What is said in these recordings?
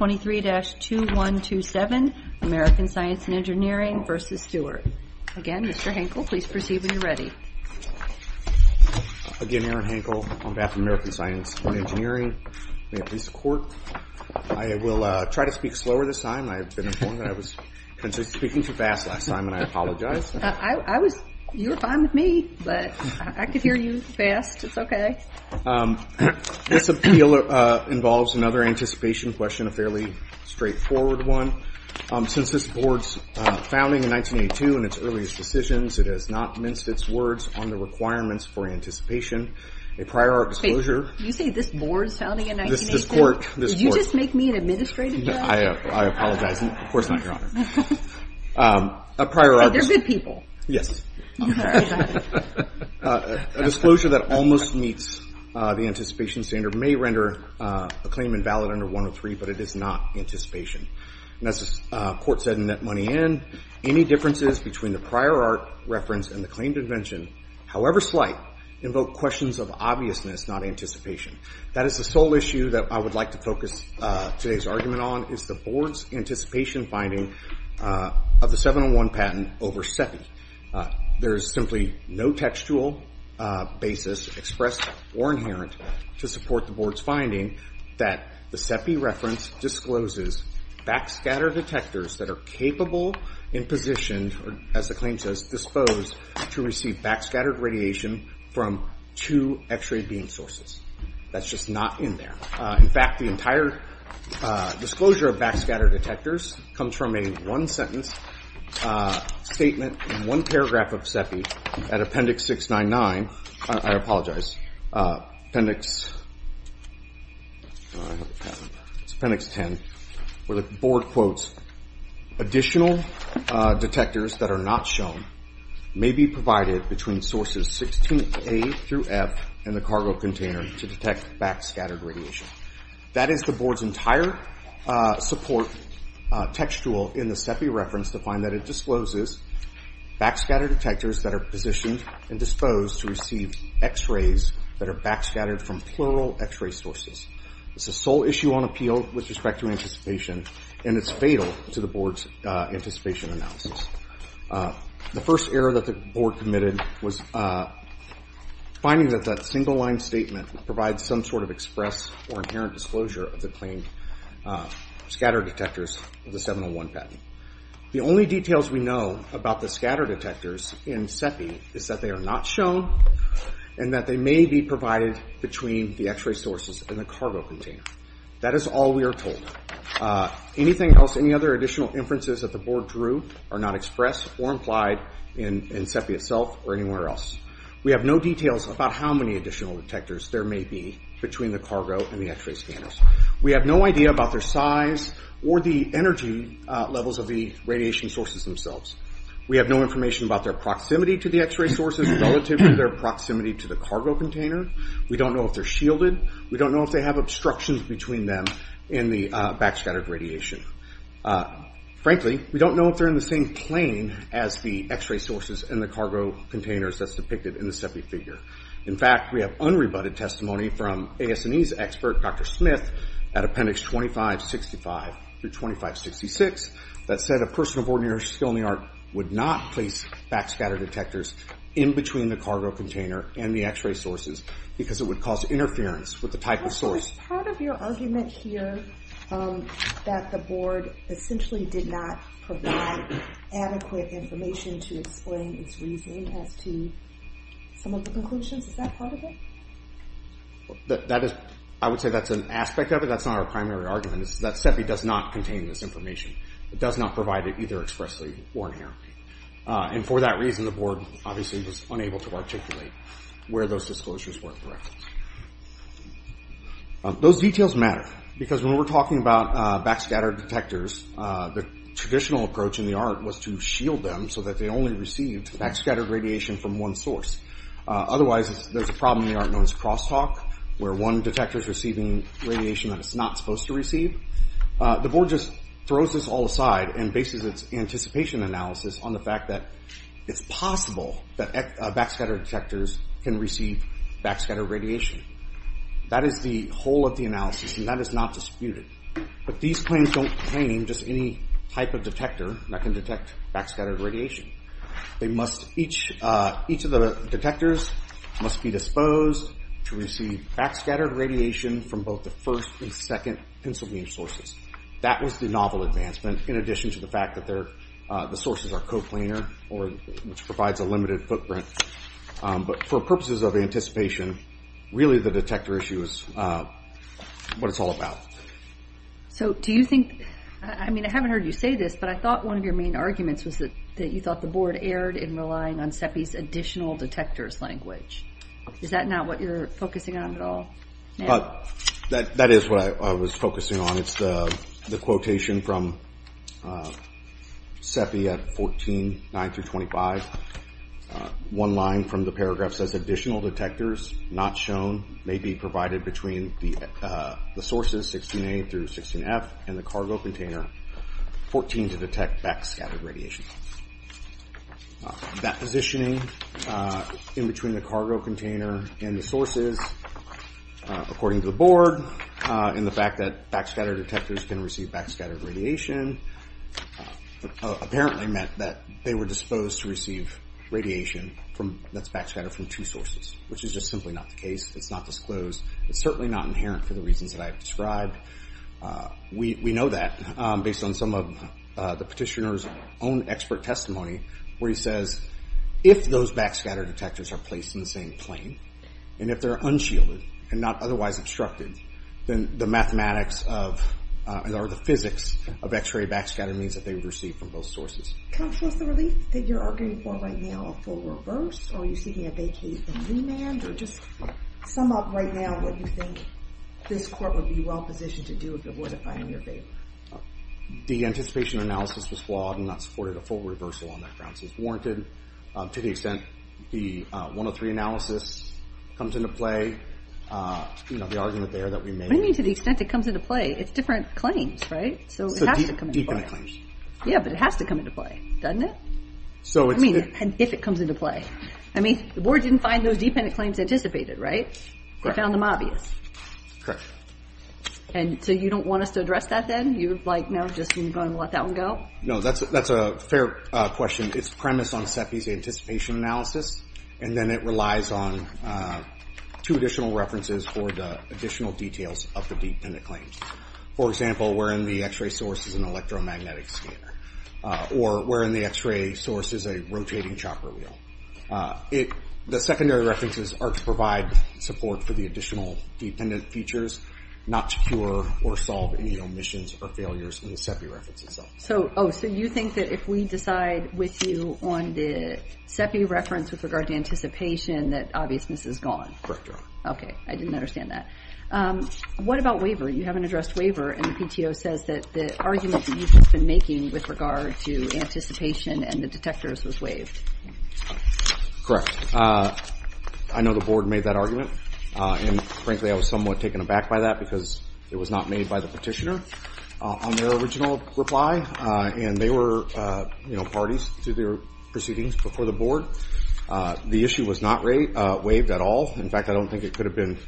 Again, Mr. Hankel, please proceed when you're ready. Again, Aaron Hankel, on behalf of American Science and Engineering, May I please support? I will try to speak slower this time. I have been informed that I was speaking too fast last time, and I apologize. You were fine with me, but I could hear you fast. It's okay. This appeal involves another anticipation question, a fairly straightforward one. Since this Board's founding in 1982 and its earliest decisions, it has not minced its words on the requirements for anticipation. A prior art disclosure – Wait. You say this Board's founding in 1982? This Court – Did you just make me an administrative judge? I apologize. Of course not, Your Honor. A prior art – They're good people. Yes. A disclosure that almost meets the anticipation standard may render a claim invalid under 103, but it is not anticipation. As the Court said in that money in, any differences between the prior art reference and the claimed invention, however slight, invoke questions of obviousness, not anticipation. That is the sole issue that I would like to focus today's argument on, is the Board's anticipation finding of the 701 patent over SEPI. There is simply no textual basis expressed or inherent to support the Board's finding that the SEPI reference discloses backscattered detectors that are capable and positioned, as the claim says, disposed to receive backscattered radiation from two X-ray beam sources. That's just not in there. In fact, the entire disclosure of backscattered detectors comes from a one-sentence statement in one paragraph of SEPI at Appendix 699 – I apologize – Appendix 10, where the Board quotes, Additional detectors that are not shown may be provided between sources 16A through F in the cargo container to detect backscattered radiation. That is the Board's entire support textual in the SEPI reference to find that it discloses backscattered detectors that are positioned and disposed to receive X-rays that are backscattered from plural X-ray sources. It's the sole issue on appeal with respect to anticipation, and it's fatal to the Board's anticipation analysis. The first error that the Board committed was finding that that single-line statement provides some sort of express or inherent disclosure of the claimed scatter detectors of the 701 patent. The only details we know about the scatter detectors in SEPI is that they are not shown and that they may be provided between the X-ray sources and the cargo container. That is all we are told. Anything else, any other additional inferences that the Board drew are not expressed or implied in SEPI itself or anywhere else. We have no details about how many additional detectors there may be between the cargo and the X-ray scanners. We have no idea about their size or the energy levels of the radiation sources themselves. We have no information about their proximity to the X-ray sources relative to their proximity to the cargo container. We don't know if they're shielded. We don't know if they have obstructions between them and the backscattered radiation. Frankly, we don't know if they're in the same plane as the X-ray sources and the cargo containers that's depicted in the SEPI figure. In fact, we have unrebutted testimony from AS&E's expert, Dr. Smith, at Appendix 2565-2566, that said a person of ordinary skill in the art would not place backscatter detectors in between the cargo container and the X-ray sources because it would cause interference with the type of source. So is part of your argument here that the Board essentially did not provide adequate information to explain its reasoning as to some of the conclusions? Is that part of it? I would say that's an aspect of it. That's not our primary argument. That SEPI does not contain this information. It does not provide it either expressly or inherently. And for that reason, the Board obviously was unable to articulate where those disclosures were for reference. Those details matter because when we're talking about backscattered detectors, the traditional approach in the art was to shield them so that they only received backscattered radiation from one source. Otherwise, there's a problem in the art known as crosstalk, where one detector is receiving radiation that it's not supposed to receive. The Board just throws this all aside and bases its anticipation analysis on the fact that it's possible that backscattered detectors can receive backscattered radiation. That is the whole of the analysis, and that is not disputed. But these claims don't contain just any type of detector that can detect backscattered radiation. Each of the detectors must be disposed to receive backscattered radiation from both the first and second pencil beam sources. That was the novel advancement, in addition to the fact that the sources are coplanar, which provides a limited footprint. But for purposes of anticipation, really the detector issue is what it's all about. I haven't heard you say this, but I thought one of your main arguments was that you thought the Board erred in relying on CEPI's additional detectors language. Is that not what you're focusing on at all? That is what I was focusing on. It's the quotation from CEPI at 14, 9 through 25. One line from the paragraph says additional detectors not shown may be provided between the sources, 16A through 16F, and the cargo container, 14, to detect backscattered radiation. That positioning in between the cargo container and the sources, according to the Board, and the fact that backscattered detectors can receive backscattered radiation, apparently meant that they were disposed to receive radiation that's backscattered from two sources, which is just simply not the case. It's not disclosed. It's certainly not inherent for the reasons that I have described. We know that based on some of the petitioner's own expert testimony, where he says, if those backscattered detectors are placed in the same plane, and if they're unshielded and not otherwise obstructed, then the mathematics or the physics of X-ray backscatter means that they would receive from both sources. Counsel, is the relief that you're arguing for right now a full reverse, or are you seeking a vacate and remand, or just sum up right now what you think this Court would be well-positioned to do if it were to find in your favor? The anticipation analysis was flawed and not supported a full reversal on that grounds as warranted. To the extent the 103 analysis comes into play, the argument there that we may— What do you mean, to the extent it comes into play? It's different claims, right? So it has to come into play. Dependent claims. Yeah, but it has to come into play, doesn't it? I mean, if it comes into play. I mean, the Board didn't find those dependent claims anticipated, right? They found them obvious. Correct. And so you don't want us to address that then? You're like, no, just going to let that one go? No, that's a fair question. It's premised on CEPI's anticipation analysis, and then it relies on two additional references for the additional details of the dependent claims. For example, wherein the X-ray source is an electromagnetic scanner, or wherein the X-ray source is a rotating chopper wheel. The secondary references are to provide support for the additional dependent features, not to cure or solve any omissions or failures in the CEPI reference itself. So you think that if we decide with you on the CEPI reference with regard to anticipation, that obviousness is gone? Correct. Okay, I didn't understand that. What about waiver? You haven't addressed waiver, and the PTO says that the argument that you've just been making with regard to anticipation and the detectors was waived. Correct. I know the board made that argument, and frankly I was somewhat taken aback by that because it was not made by the petitioner on their original reply, and they were parties to their proceedings before the board. The issue was not waived at all. In fact, I don't think it could have been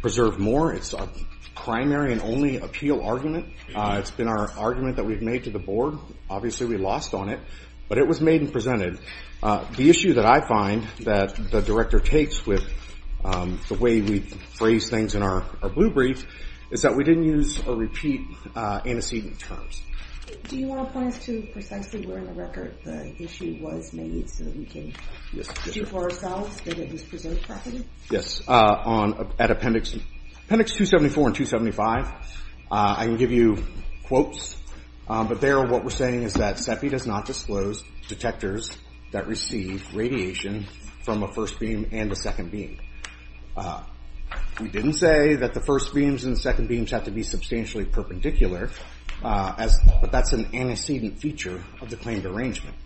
preserved more. It's our primary and only appeal argument. It's been our argument that we've made to the board. Obviously we lost on it, but it was made and presented. The issue that I find that the director takes with the way we phrase things in our blue brief is that we didn't use or repeat antecedent terms. Do you want to point us to precisely where in the record the issue was made so that we can see for ourselves that it was preserved properly? Yes, at appendix 274 and 275. I can give you quotes, but there what we're saying is that CEPI does not disclose detectors that receive radiation from a first beam and a second beam. We didn't say that the first beams and the second beams have to be substantially perpendicular, but that's an antecedent feature of the claimed arrangement.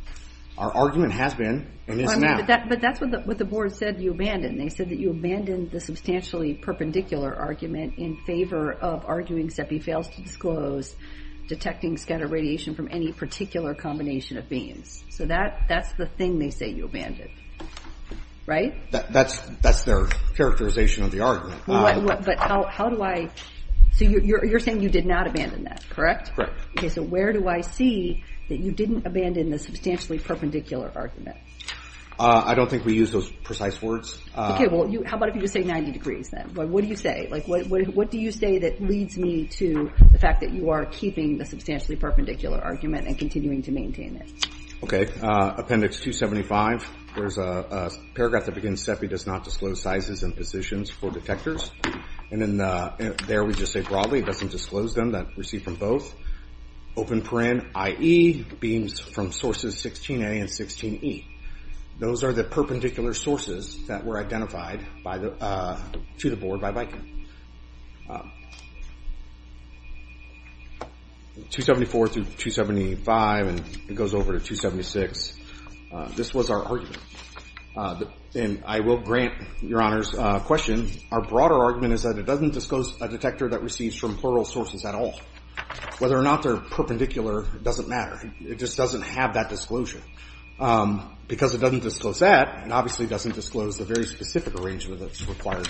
Our argument has been and is now. But that's what the board said you abandoned. They said that you abandoned the substantially perpendicular argument in favor of arguing CEPI fails to disclose detecting scattered radiation from any particular combination of beams. So that's the thing they say you abandoned, right? That's their characterization of the argument. But how do I—so you're saying you did not abandon that, correct? Correct. Okay, so where do I see that you didn't abandon the substantially perpendicular argument? I don't think we used those precise words. Okay, well, how about if you just say 90 degrees then? What do you say? What do you say that leads me to the fact that you are keeping the substantially perpendicular argument and continuing to maintain it? Okay, appendix 275, there's a paragraph that begins, CEPI does not disclose sizes and positions for detectors. And there we just say broadly it doesn't disclose them that receive from both. Open paren, IE, beams from sources 16A and 16E. Those are the perpendicular sources that were identified to the board by Viking. 274 through 275 and it goes over to 276. This was our argument. And I will grant Your Honor's question. Our broader argument is that it doesn't disclose a detector that receives from plural sources at all. Whether or not they're perpendicular doesn't matter. It just doesn't have that disclosure. Because it doesn't disclose that, it obviously doesn't disclose the very specific arrangement that's required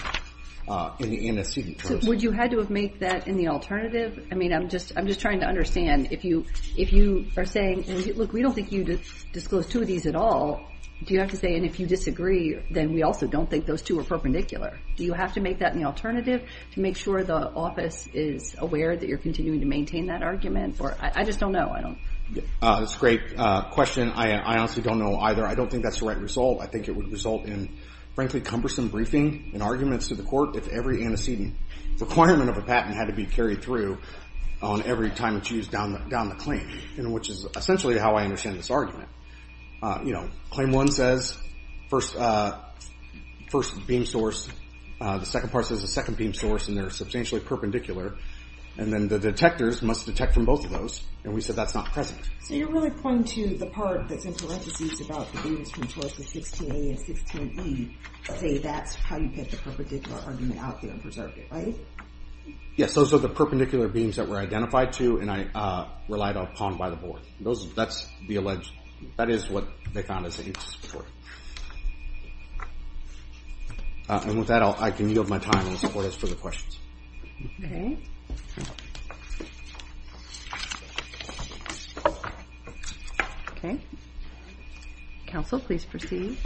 in the NSC. Would you have to have made that in the alternative? I mean, I'm just trying to understand. If you are saying, look, we don't think you disclosed two of these at all, do you have to say, and if you disagree, then we also don't think those two are perpendicular. Do you have to make that in the alternative to make sure the office is aware that you're continuing to maintain that argument? I just don't know. That's a great question. I honestly don't know either. I don't think that's the right result. I think it would result in, frankly, cumbersome briefing and arguments to the court if every antecedent requirement of a patent had to be carried through on every time it's used down the claim, which is essentially how I understand this argument. Claim one says first beam source. The second part says the second beam source, and they're substantially perpendicular. And then the detectors must detect from both of those, and we said that's not present. So you're really pointing to the part that's in parentheses about the beams from choice with 16A and 16E say that's how you get the perpendicular argument out there and preserve it, right? Yes, those are the perpendicular beams that were identified to and relied upon by the board. That is what they found as anticipatory. And with that, I can yield my time and support us for the questions. Okay. Counsel, please proceed.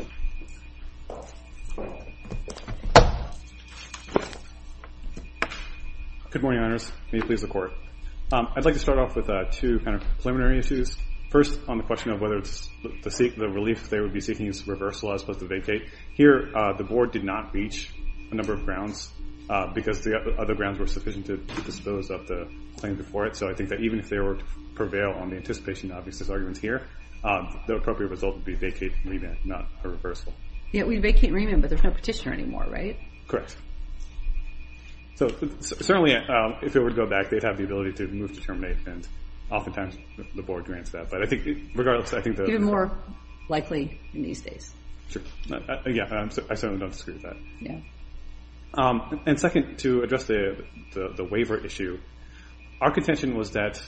Good morning, Your Honors. May it please the court. I'd like to start off with two kind of preliminary issues. First, on the question of whether the relief they would be seeking is reversal as opposed to vacate. Here, the board did not reach a number of grounds because the other grounds were sufficient to dispose of the claim before it. So I think that even if they were to prevail on the anticipation of these arguments here, the appropriate result would be vacate and remand, not a reversal. Yeah, we vacate and remand, but there's no petitioner anymore, right? Correct. So certainly, if it were to go back, they'd have the ability to move to terminate, and oftentimes the board grants that. Even more likely in these days. Yeah, I certainly don't disagree with that. And second, to address the waiver issue, our contention was that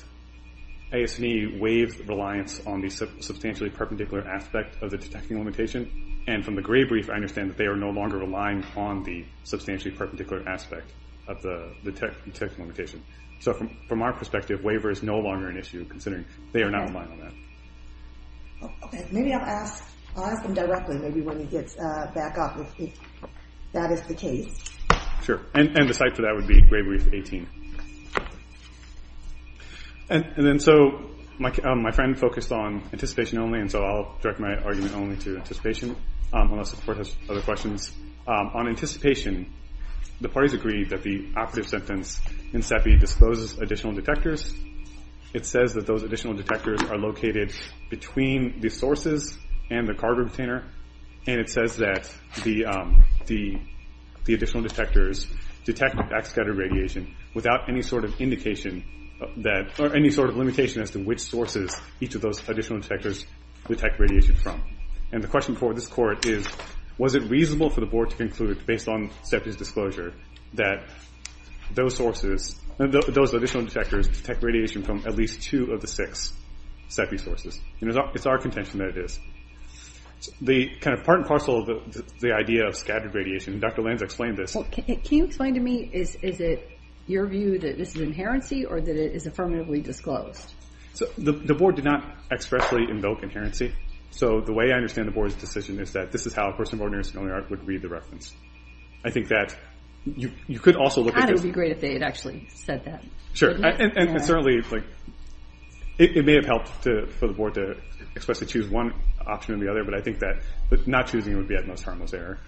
AS&E waived reliance on the substantially perpendicular aspect of the detecting limitation, and from the gray brief, I understand that they are no longer relying on the substantially perpendicular aspect of the detecting limitation. So from our perspective, waiver is no longer an issue considering they are now relying on that. Okay, maybe I'll ask him directly, maybe when he gets back up, if that is the case. Sure, and the site for that would be gray brief 18. And then, so, my friend focused on anticipation only, and so I'll direct my argument only to anticipation, unless the board has other questions. On anticipation, the parties agreed that the operative sentence in CEPI discloses additional detectors. It says that those additional detectors are located between the sources and the carbon container, and it says that the additional detectors detect backscattered radiation without any sort of limitation as to which sources each of those additional detectors detect radiation from. And the question for this court is, was it reasonable for the board to conclude, based on CEPI's disclosure, that those additional detectors detect radiation from at least two of the six CEPI sources? It's our contention that it is. The kind of part and parcel of the idea of scattered radiation, and Dr. Lanz explained this. Can you explain to me, is it your view that this is inherency or that it is affirmatively disclosed? The board did not expressly invoke inherency, so the way I understand the board's decision is that this is how a person of ordinary skill and art would read the reference. I think that you could also look at this... It may have helped for the board to expressly choose one option over the other, but I think that not choosing it would be at most harmless error.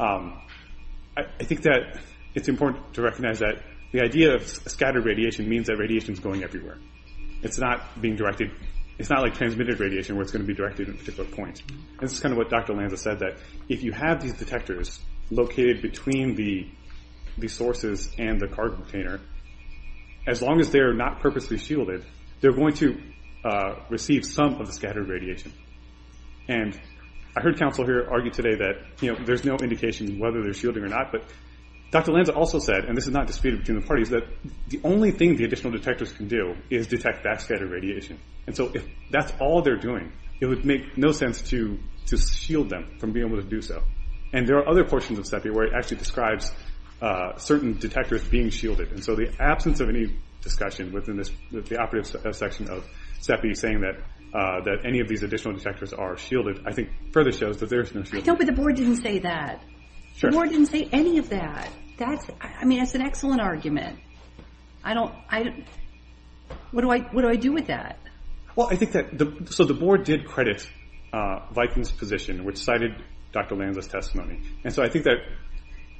I think that it's important to recognize that the idea of scattered radiation means that radiation is going everywhere. It's not like transmitted radiation, where it's going to be directed at a particular point. This is kind of what Dr. Lanz has said, that if you have these detectors located between the sources and the cargo container, as long as they're not purposely shielded, they're going to receive some of the scattered radiation. I heard counsel here argue today that there's no indication whether they're shielding or not, but Dr. Lanz also said, and this is not disputed between the parties, that the only thing the additional detectors can do is detect that scattered radiation. If that's all they're doing, it would make no sense to shield them from being able to do so. There are other portions of SEPI where it actually describes certain detectors being shielded. The absence of any discussion within the operative section of SEPI saying that any of these additional detectors are shielded, I think further shows that there is no shielding. I told you the board didn't say that. The board didn't say any of that. That's an excellent argument. What do I do with that? The board did credit Viking's position, which cited Dr. Lanz's testimony. I think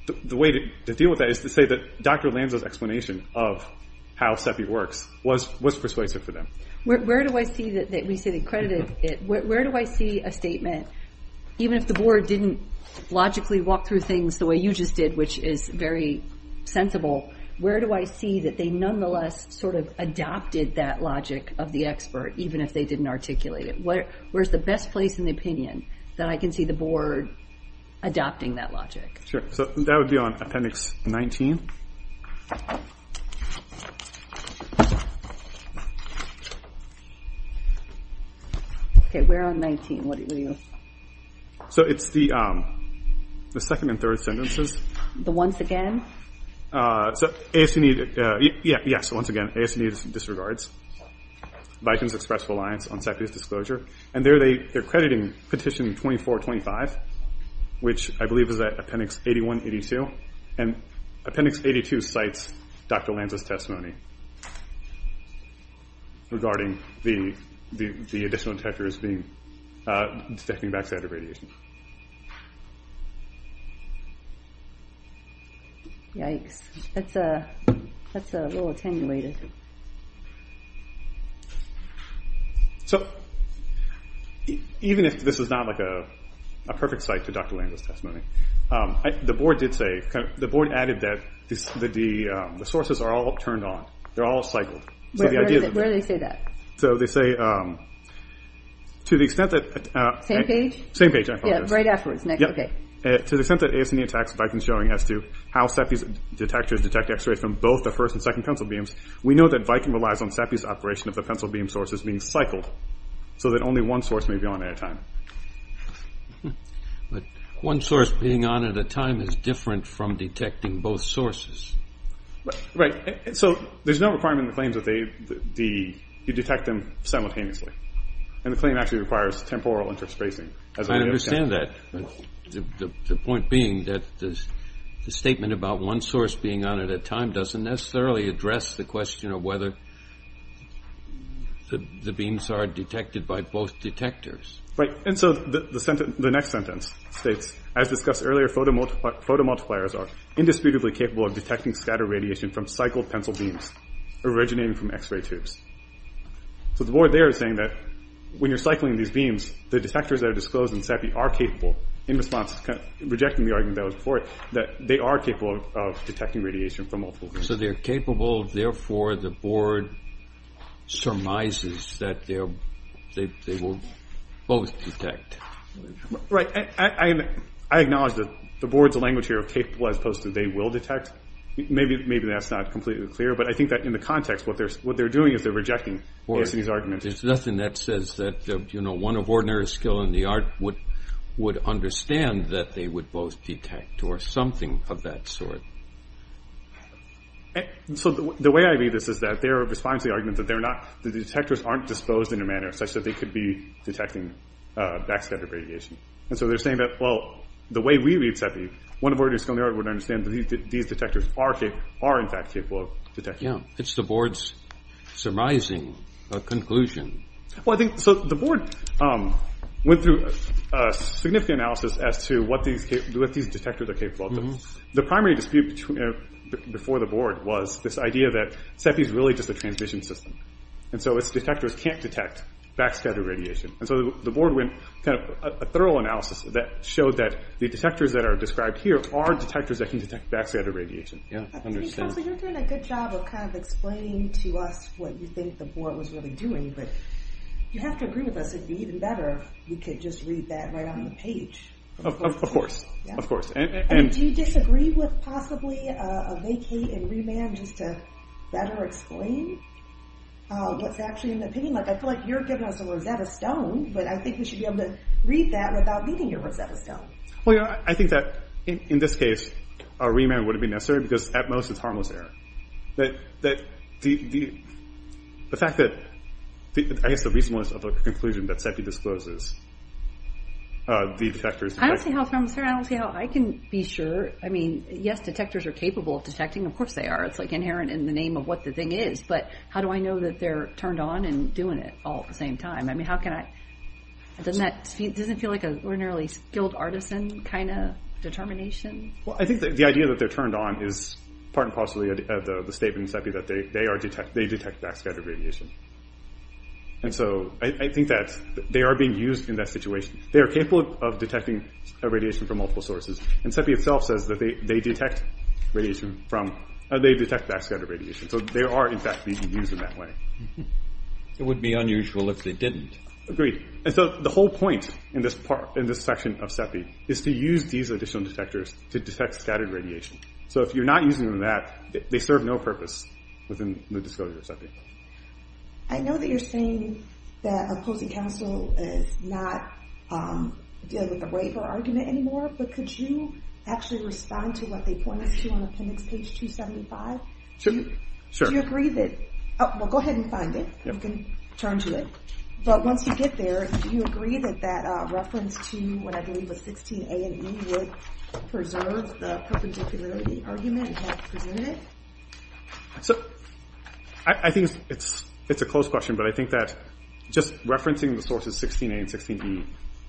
the way to deal with that is to say that Dr. Lanz's explanation of how SEPI works was persuasive for them. Where do I see a statement, even if the board didn't logically walk through things the way you just did, which is very sensible, where do I see that they nonetheless adopted that logic of the expert, even if they didn't articulate it? Where's the best place in the opinion that I can see the board adopting that logic? That would be on Appendix 19. It's the second and third sentences. The once again? Yes, once again, AS&E disregards Viking's expressful alliance on SEPI's disclosure. There they're crediting Petition 2425, which I believe is at Appendix 81, 82. Appendix 82 cites Dr. Lanz's testimony regarding the additional detectors detecting backside of radiation. Yikes, that's a little attenuated. Even if this is not a perfect cite to Dr. Lanz's testimony, the board added that the sources are all turned on, they're all cycled. Where do they say that? To the extent that... Same page? Yes, right afterwards. To the extent that AS&E attacks Viking's showing as to how SEPI's detectors detect X-rays from both the first and second pencil beams, we know that Viking relies on SEPI's operation of the pencil beam sources being cycled, so that only one source may be on at a time. But one source being on at a time is different from detecting both sources. Right, so there's no requirement in the claims that you detect them simultaneously. And the claim actually requires temporal interspacing. I understand that. The point being that the statement about one source being on at a time doesn't necessarily address the question of whether the beams are detected by both detectors. Right, and so the next sentence states, as discussed earlier, photomultipliers are indisputably capable of detecting scattered radiation from cycled pencil beams originating from X-ray tubes. So the board there is saying that when you're cycling these beams, the detectors that are disclosed in SEPI are capable, in response to rejecting the argument that was before it, that they are capable of detecting radiation from multiple beams. So they're capable, therefore the board surmises that they will both detect. Right, I acknowledge that the board's language here of capable as opposed to they will detect, maybe that's not completely clear, but I think that in the context, what they're doing is they're rejecting AS&E's argument. There's nothing that says that, you know, one of ordinary skill in the art would understand that they would both detect, or something of that sort. So the way I read this is that their response to the argument is that the detectors aren't disposed in a manner such that they could be detecting backscattered radiation. And so they're saying that, well, the way we read SEPI, one of ordinary skill in the art would understand that these detectors are in fact capable of detecting. Yeah, it's the board's surmising conclusion. Well, I think, so the board went through a significant analysis as to what these detectors are capable of. The primary dispute before the board was this idea that SEPI's really just a transmission system. And so its detectors can't detect backscattered radiation. And so the board went, kind of, a thorough analysis that showed that the detectors that are described here are detectors that can detect backscattered radiation. Yeah, I understand. So you're doing a good job of kind of explaining to us what you think the board was really doing, but you have to agree with us, it'd be even better if we could just read that right on the page. Of course, of course. And do you disagree with possibly a vacate and remand just to better explain what's actually in the opinion? Like, I feel like you're giving us a Rosetta Stone, but I think we should be able to read that without needing your Rosetta Stone. Well, you know, I think that in this case a remand wouldn't be necessary because at most it's harmless error. The fact that... I guess the reasonableness of the conclusion that SEPI discloses the detectors... I don't see how it's harmless error. I can be sure. I mean, yes, detectors are capable of detecting. Of course they are. It's, like, inherent in the name of what the thing is. But how do I know that they're turned on and doing it all at the same time? I mean, how can I... Doesn't that feel like an ordinarily skilled artisan kind of determination? Well, I think the idea that they're turned on is part and parcel of the statement in SEPI that they detect backscattered radiation. And so I think that they are being used in that situation. They are capable of detecting radiation from multiple sources. And SEPI itself says that they detect backscattered radiation. So they are, in fact, being used in that way. It would be unusual if they didn't. Agreed. And so the whole point in this section of SEPI is to use these additional detectors to detect scattered radiation. So if you're not using them in that, they serve no purpose within the disclosure of SEPI. I know that you're saying that opposing counsel is not dealing with the waiver argument anymore, but could you actually respond to what they point us to on appendix page 275? Certainly. Sure. Do you agree that... Well, go ahead and find it. You can turn to it. But once you get there, do you agree that that reference to what I believe was 16A and E would preserve the perpendicularity argument and help present it? So I think it's a close question, but I think that just referencing the sources 16A and 16E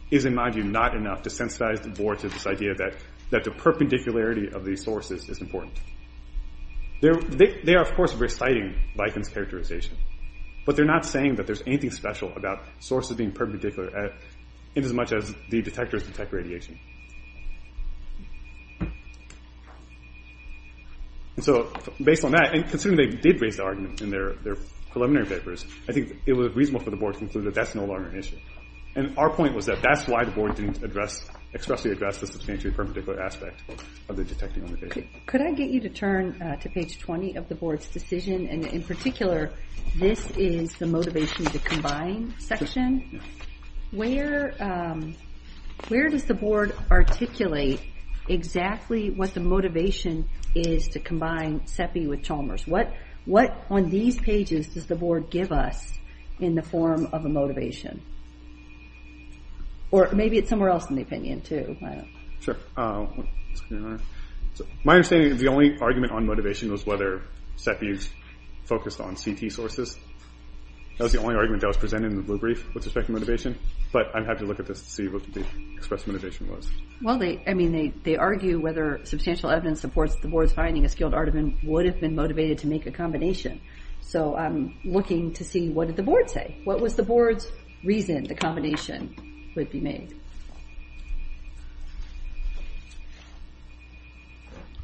is, in my view, not enough to sensitize the board to this idea that the perpendicularity of these sources is important. They are, of course, reciting Likens' characterization, but they're not saying that there's anything special about sources being perpendicular inasmuch as the detectors detect radiation. And so, based on that, and considering they did raise the argument in their preliminary papers, I think it was reasonable for the board to conclude that that's no longer an issue. And our point was that that's why the board didn't address, expressly address, the substantially perpendicular aspect of the detecting on the paper. Could I get you to turn to page 20 of the board's decision, and in particular, this is the motivation to combine section. Where does the board articulate exactly what the motivation is to combine CEPI with Chalmers? What on these pages does the board give us in the form of a motivation? Or maybe it's somewhere else in the opinion, too. Sure. My understanding is the only argument on motivation was whether CEPI focused on CT sources. That was the only argument that was presented in the blue brief with respect to motivation. But I'd have to look at this to see what the express motivation was. Well, I mean, they argue whether substantial evidence supports the board's finding a skilled artiman would have been motivated to make a combination. So I'm looking to see what did the board say? What was the board's reason the combination would be made?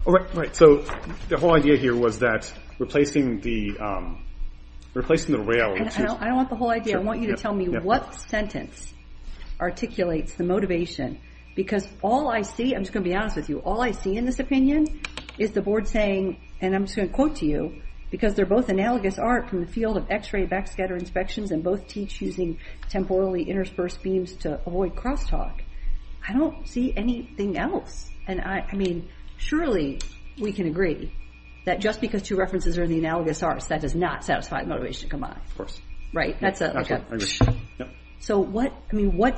All right, so the whole idea here was that replacing the rail... I don't want the whole idea. I want you to tell me what sentence articulates the motivation. Because all I see, I'm just going to be honest with you, all I see in this opinion is the board saying, and I'm just going to quote to you, because they're both analogous art from the field of x-ray backscatter inspections and both teach using temporally interspersed beams to avoid crosstalk. I don't see anything else. And I mean, surely we can agree that just because two references are in the analogous art, that does not satisfy the motivation to combine. Of course. Right? Absolutely, I agree. So what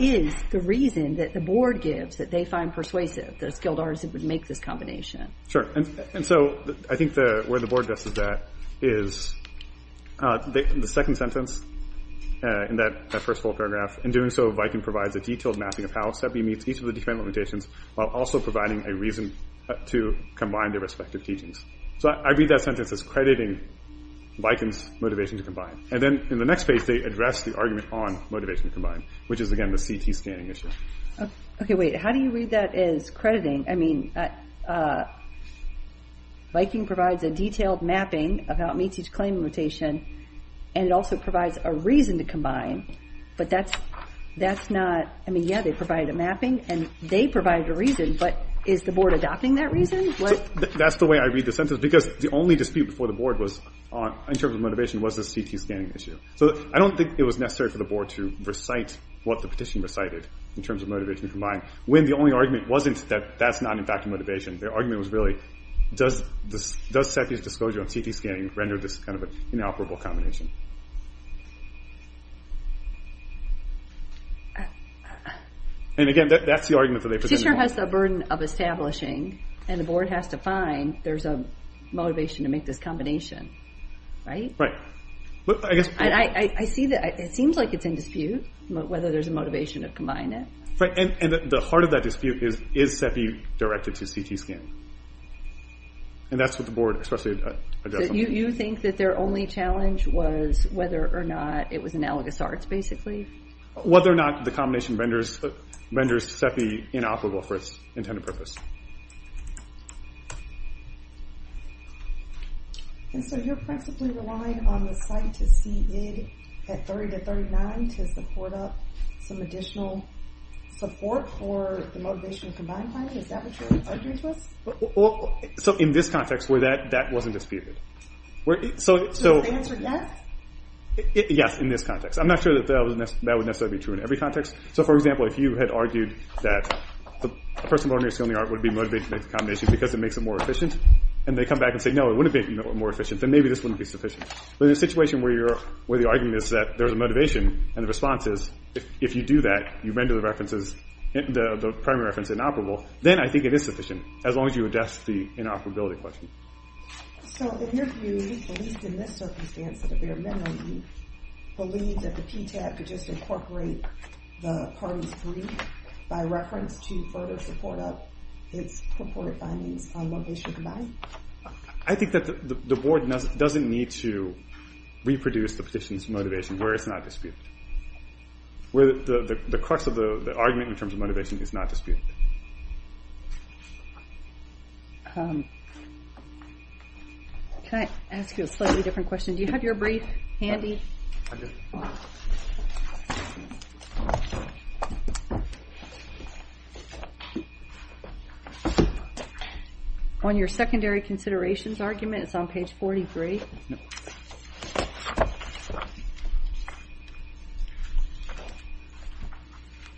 is the reason that the board gives that they find persuasive that a skilled artisan would make this combination? Sure, and so I think where the board guesses that is the second sentence in that first full paragraph. In doing so, Viking provides a detailed mapping of how a sub-beam meets each of the different limitations while also providing a reason to combine their respective teachings. So I read that sentence as crediting Viking's motivation to combine. And then in the next phase, they address the argument on motivation to combine, which is again the CT scanning issue. Okay, wait, how do you read that as crediting? I mean, Viking provides a detailed mapping of how it meets each claim limitation, and it also provides a reason to combine, but that's not, I mean, yeah, they provide a mapping, and they provide a reason, but is the board adopting that reason? That's the way I read the sentence, because the only dispute before the board in terms of motivation was the CT scanning issue. So I don't think it was necessary for the board to recite what the petition recited in terms of motivation to combine, when the only argument wasn't that that's not, in fact, a motivation. Their argument was really, does Sethi's disclosure on CT scanning render this kind of an inoperable combination? And again, that's the argument that they present. The petitioner has the burden of establishing, and the board has to find there's a motivation to make this combination, right? Right. I see that, it seems like it's in dispute whether there's a motivation to combine it. Right, and the heart of that dispute is, is Sethi directed to CT scanning? And that's what the board, especially, You think that their only challenge was whether or not it was analogous arts, basically? Whether or not the combination renders Sethi inoperable for its intended purpose. And so you're principally relying on the site to see it at 30 to 39 to support up some additional support for the motivation to combine plan? Is that what your argument was? So in this context, that wasn't disputed. So the answer is yes? Yes, in this context. I'm not sure that that would necessarily be true in every context. So for example, if you had argued that a person learning a skill in the art would be motivated to make the combination because it makes it more efficient, and they come back and say, no, it wouldn't make it more efficient, then maybe this wouldn't be sufficient. But in a situation where you're, where the argument is that there's a motivation, and the response is, if you do that, you render the references, the primary reference inoperable, then I think it is sufficient, as long as you address the inoperability question. So in your view, at least in this circumstance, out of your memory, do you believe that the PTAC could just incorporate the party's brief by reference to further support up its purported findings on what they should combine? I think that the board doesn't need to reproduce the petition's motivation, where it's not disputed. Where the crux of the argument in terms of motivation is not disputed. Can I ask you a slightly different question? Do you have your brief handy? On your secondary considerations argument, it's on page 43.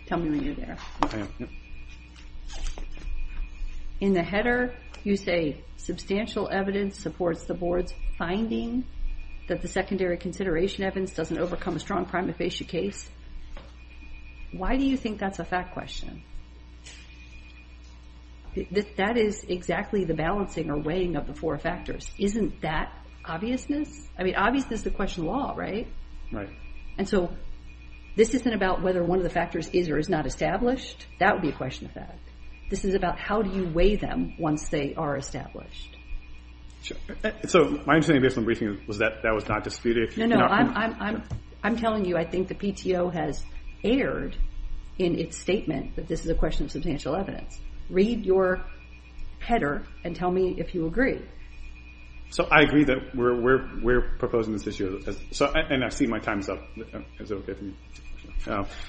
Tell me when you're there. In the header, you say, substantial evidence supports the board's finding that the secondary consideration evidence doesn't overcome a strong prima facie case. Why do you think that's a fact question? That is exactly the balancing or weighing of the four factors. Isn't that obviousness? I mean, obviousness is the question of the law, right? Right. And so, this isn't about whether one of the factors is or is not established. That would be a question of fact. This is about how do you weigh them once they are established. So, my understanding based on the briefing was that that was not disputed. No, no, I'm telling you, I think the PTO has erred in its statement that this is a question of substantial evidence. Read your header and tell me if you agree. So, I agree that we're proposing this issue. And I've seen my time's up.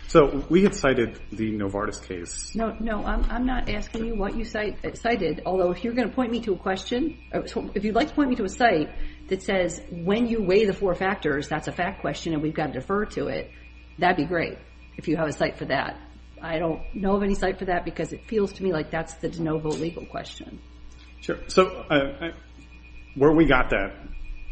So, we had cited the Novartis case. No, I'm not asking you what you cited, although if you're going to point me to a question, if you'd like to point me to a site that says when you weigh the four factors, that's a fact question and we've got to defer to it, that'd be great if you have a site for that. I don't know of any site for that because it feels to me like that's the de novo legal question. Sure. So, where we got that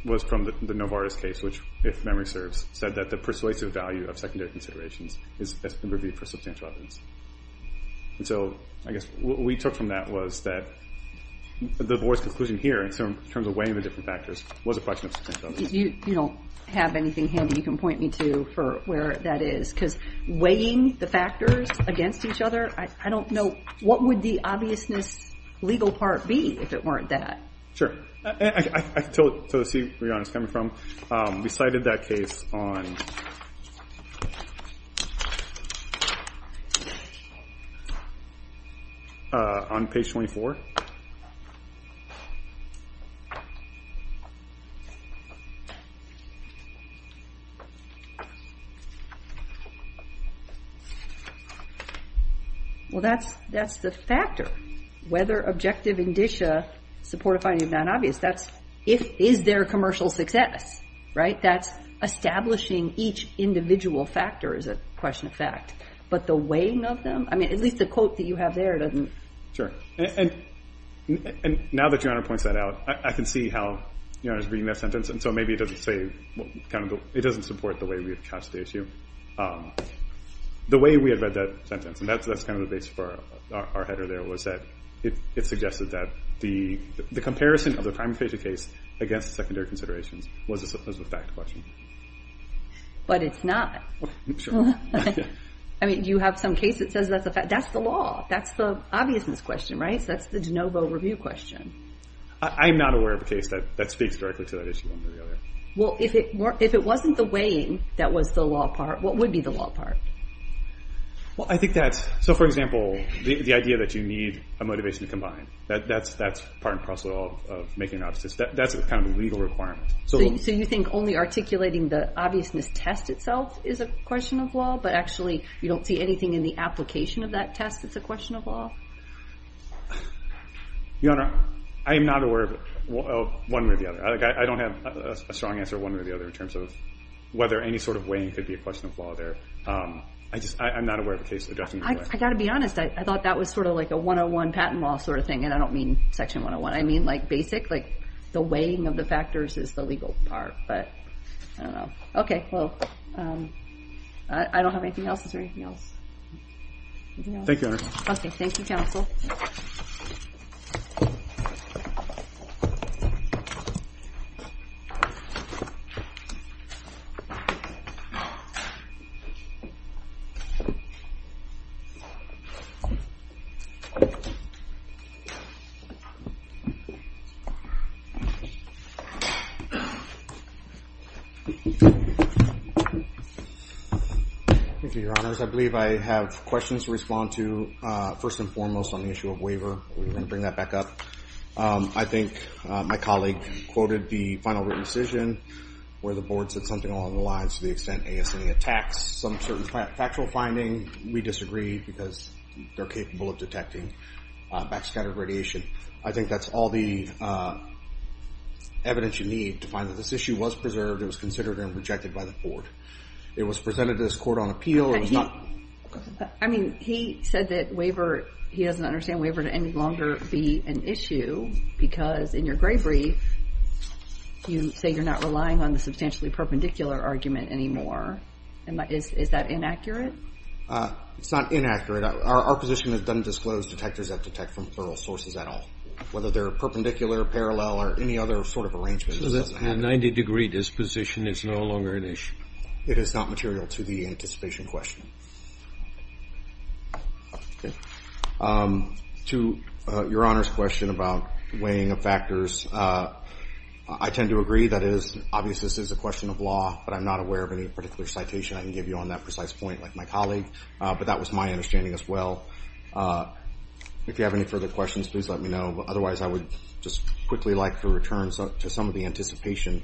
was from the Novartis case, which, if memory serves, said that the persuasive value of secondary considerations has been reviewed for substantial evidence. And so, I guess what we took from that was that the board's conclusion here, in terms of weighing the different factors, was a question of substantial evidence. You don't have anything handy you can point me to for where that is, because weighing the factors against each other, I don't know, what would the obviousness legal part be if it weren't that? Sure. I can tell you where you're coming from. We cited that case on... ...on page 24. Well, that's the factor. Whether objective indicia support a finding of non-obvious, that's if is there commercial success, right? That's establishing each individual factor is a question of fact. But the weighing of them, I mean, at least the quote that you have there doesn't... Sure. And now that Your Honor points that out, I can see how Your Honor is reading that sentence, and so maybe it doesn't say, it doesn't support the way we have touched the issue. The way we have read that sentence, and that's kind of the base for our header there, was that it suggested that the comparison of the primary case against the secondary considerations was a fact question. But it's not. Sure. I mean, you have some case that says that's a fact. That's the law. That's the obviousness question, right? That's the de novo review question. I'm not aware of a case that speaks directly to that issue one way or the other. Well, if it wasn't the weighing that was the law part, what would be the law part? Well, I think that... So, for example, the idea that you need a motivation to combine. That's part and parcel of making an objective. That's kind of a legal requirement. So you think only articulating the obviousness test itself is a question of law, but actually you don't see anything in the application of that test that's a question of law? Your Honor, I am not aware of it one way or the other. I don't have a strong answer one way or the other in terms of whether any sort of weighing could be a question of law there. I'm not aware of a case addressing that. I've got to be honest. I thought that was sort of like a 101 patent law sort of thing, and I don't mean Section 101. I mean like basic, like the weighing of the factors is the legal part, but I don't know. Okay. Well, I don't have anything else. Is there anything else? Thank you, Your Honor. Okay. Thank you, counsel. Thank you. Thank you, Your Honors. I believe I have questions to respond to, first and foremost on the issue of waiver. We're going to bring that back up. I think my colleague quoted the final written decision where the board said something along the lines to the extent ASME attacks some certain factual finding. We disagree because they're capable of detecting backscattered radiation. I think that's all the evidence you need to find that this issue was preserved. It was considered and rejected by the board. It was presented to this court on appeal. I mean, he said that waiver, he doesn't understand waiver to any longer be an issue because in your gray brief, you say you're not relying on the substantially perpendicular argument anymore. Is that inaccurate? It's not inaccurate. Our position is it doesn't disclose detectors that detect from plural sources at all, whether they're perpendicular, parallel, or any other sort of arrangement. So that 90-degree disposition is no longer an issue. It is not material to the anticipation question. To Your Honor's question about weighing of factors, I tend to agree that it is obvious this is a question of law, but I'm not aware of any particular citation I can give you on that precise point, like my colleague. But that was my understanding as well. If you have any further questions, please let me know. Otherwise, I would just quickly like to return to some of the anticipation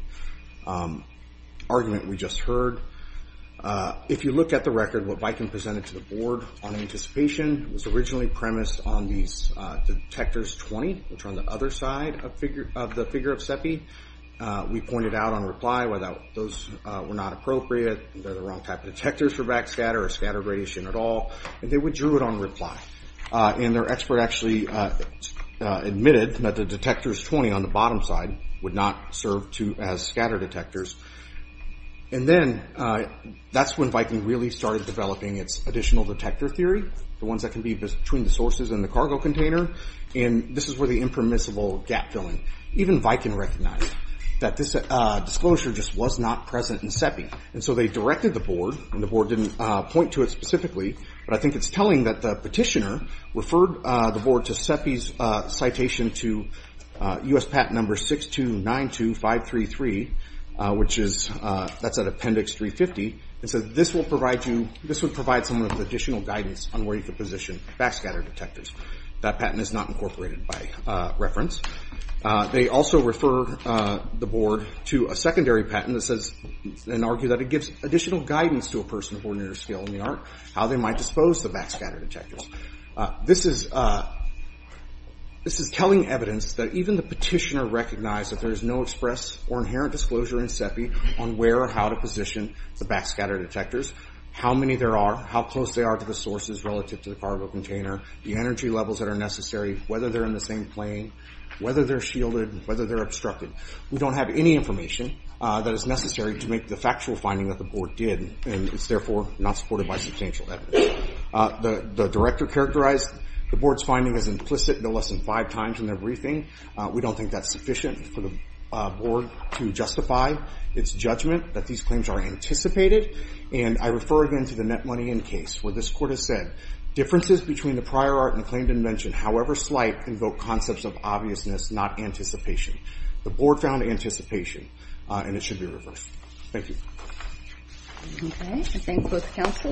argument we just heard. If you look at the record, what Viking presented to the board on anticipation was originally premised on these detectors 20, which are on the other side of the figure of CEPI. We pointed out on reply whether those were not appropriate, they're the wrong type of detectors for backscatter or scatter radiation at all, and they withdrew it on reply. And their expert actually admitted that the detectors 20 on the bottom side would not serve as scatter detectors. And then that's when Viking really started developing its additional detector theory, the ones that can be between the sources and the cargo container, and this is where the impermissible gap filling. Even Viking recognized that this disclosure just was not present in CEPI, and so they directed the board, and the board didn't point to it specifically, but I think it's telling that the petitioner referred the board to CEPI's citation to U.S. Patent Number 6292533, which is at Appendix 350, and said this would provide some additional guidance on where you could position backscatter detectors. That patent is not incorporated by reference. They also refer the board to a secondary patent that says and argue that it gives additional guidance to a person of ordinary skill in the art how they might dispose the backscatter detectors. This is telling evidence that even the petitioner recognized that there is no express or inherent disclosure in CEPI on where or how to position the backscatter detectors, how many there are, how close they are to the sources relative to the cargo container, the energy levels that are necessary, whether they're in the same plane, whether they're shielded, whether they're obstructed. We don't have any information that is necessary to make the factual finding that the board did, and it's therefore not supported by substantial evidence. The director characterized the board's finding as implicit no less than five times in their briefing. We don't think that's sufficient for the board to justify its judgment that these claims are anticipated, and I refer again to the net money in case where this court has said differences between the prior art and the claimed invention, however slight, invoke concepts of obviousness, not anticipation. The board found anticipation, and it should be reversed. Thank you. Okay. I thank both counsel.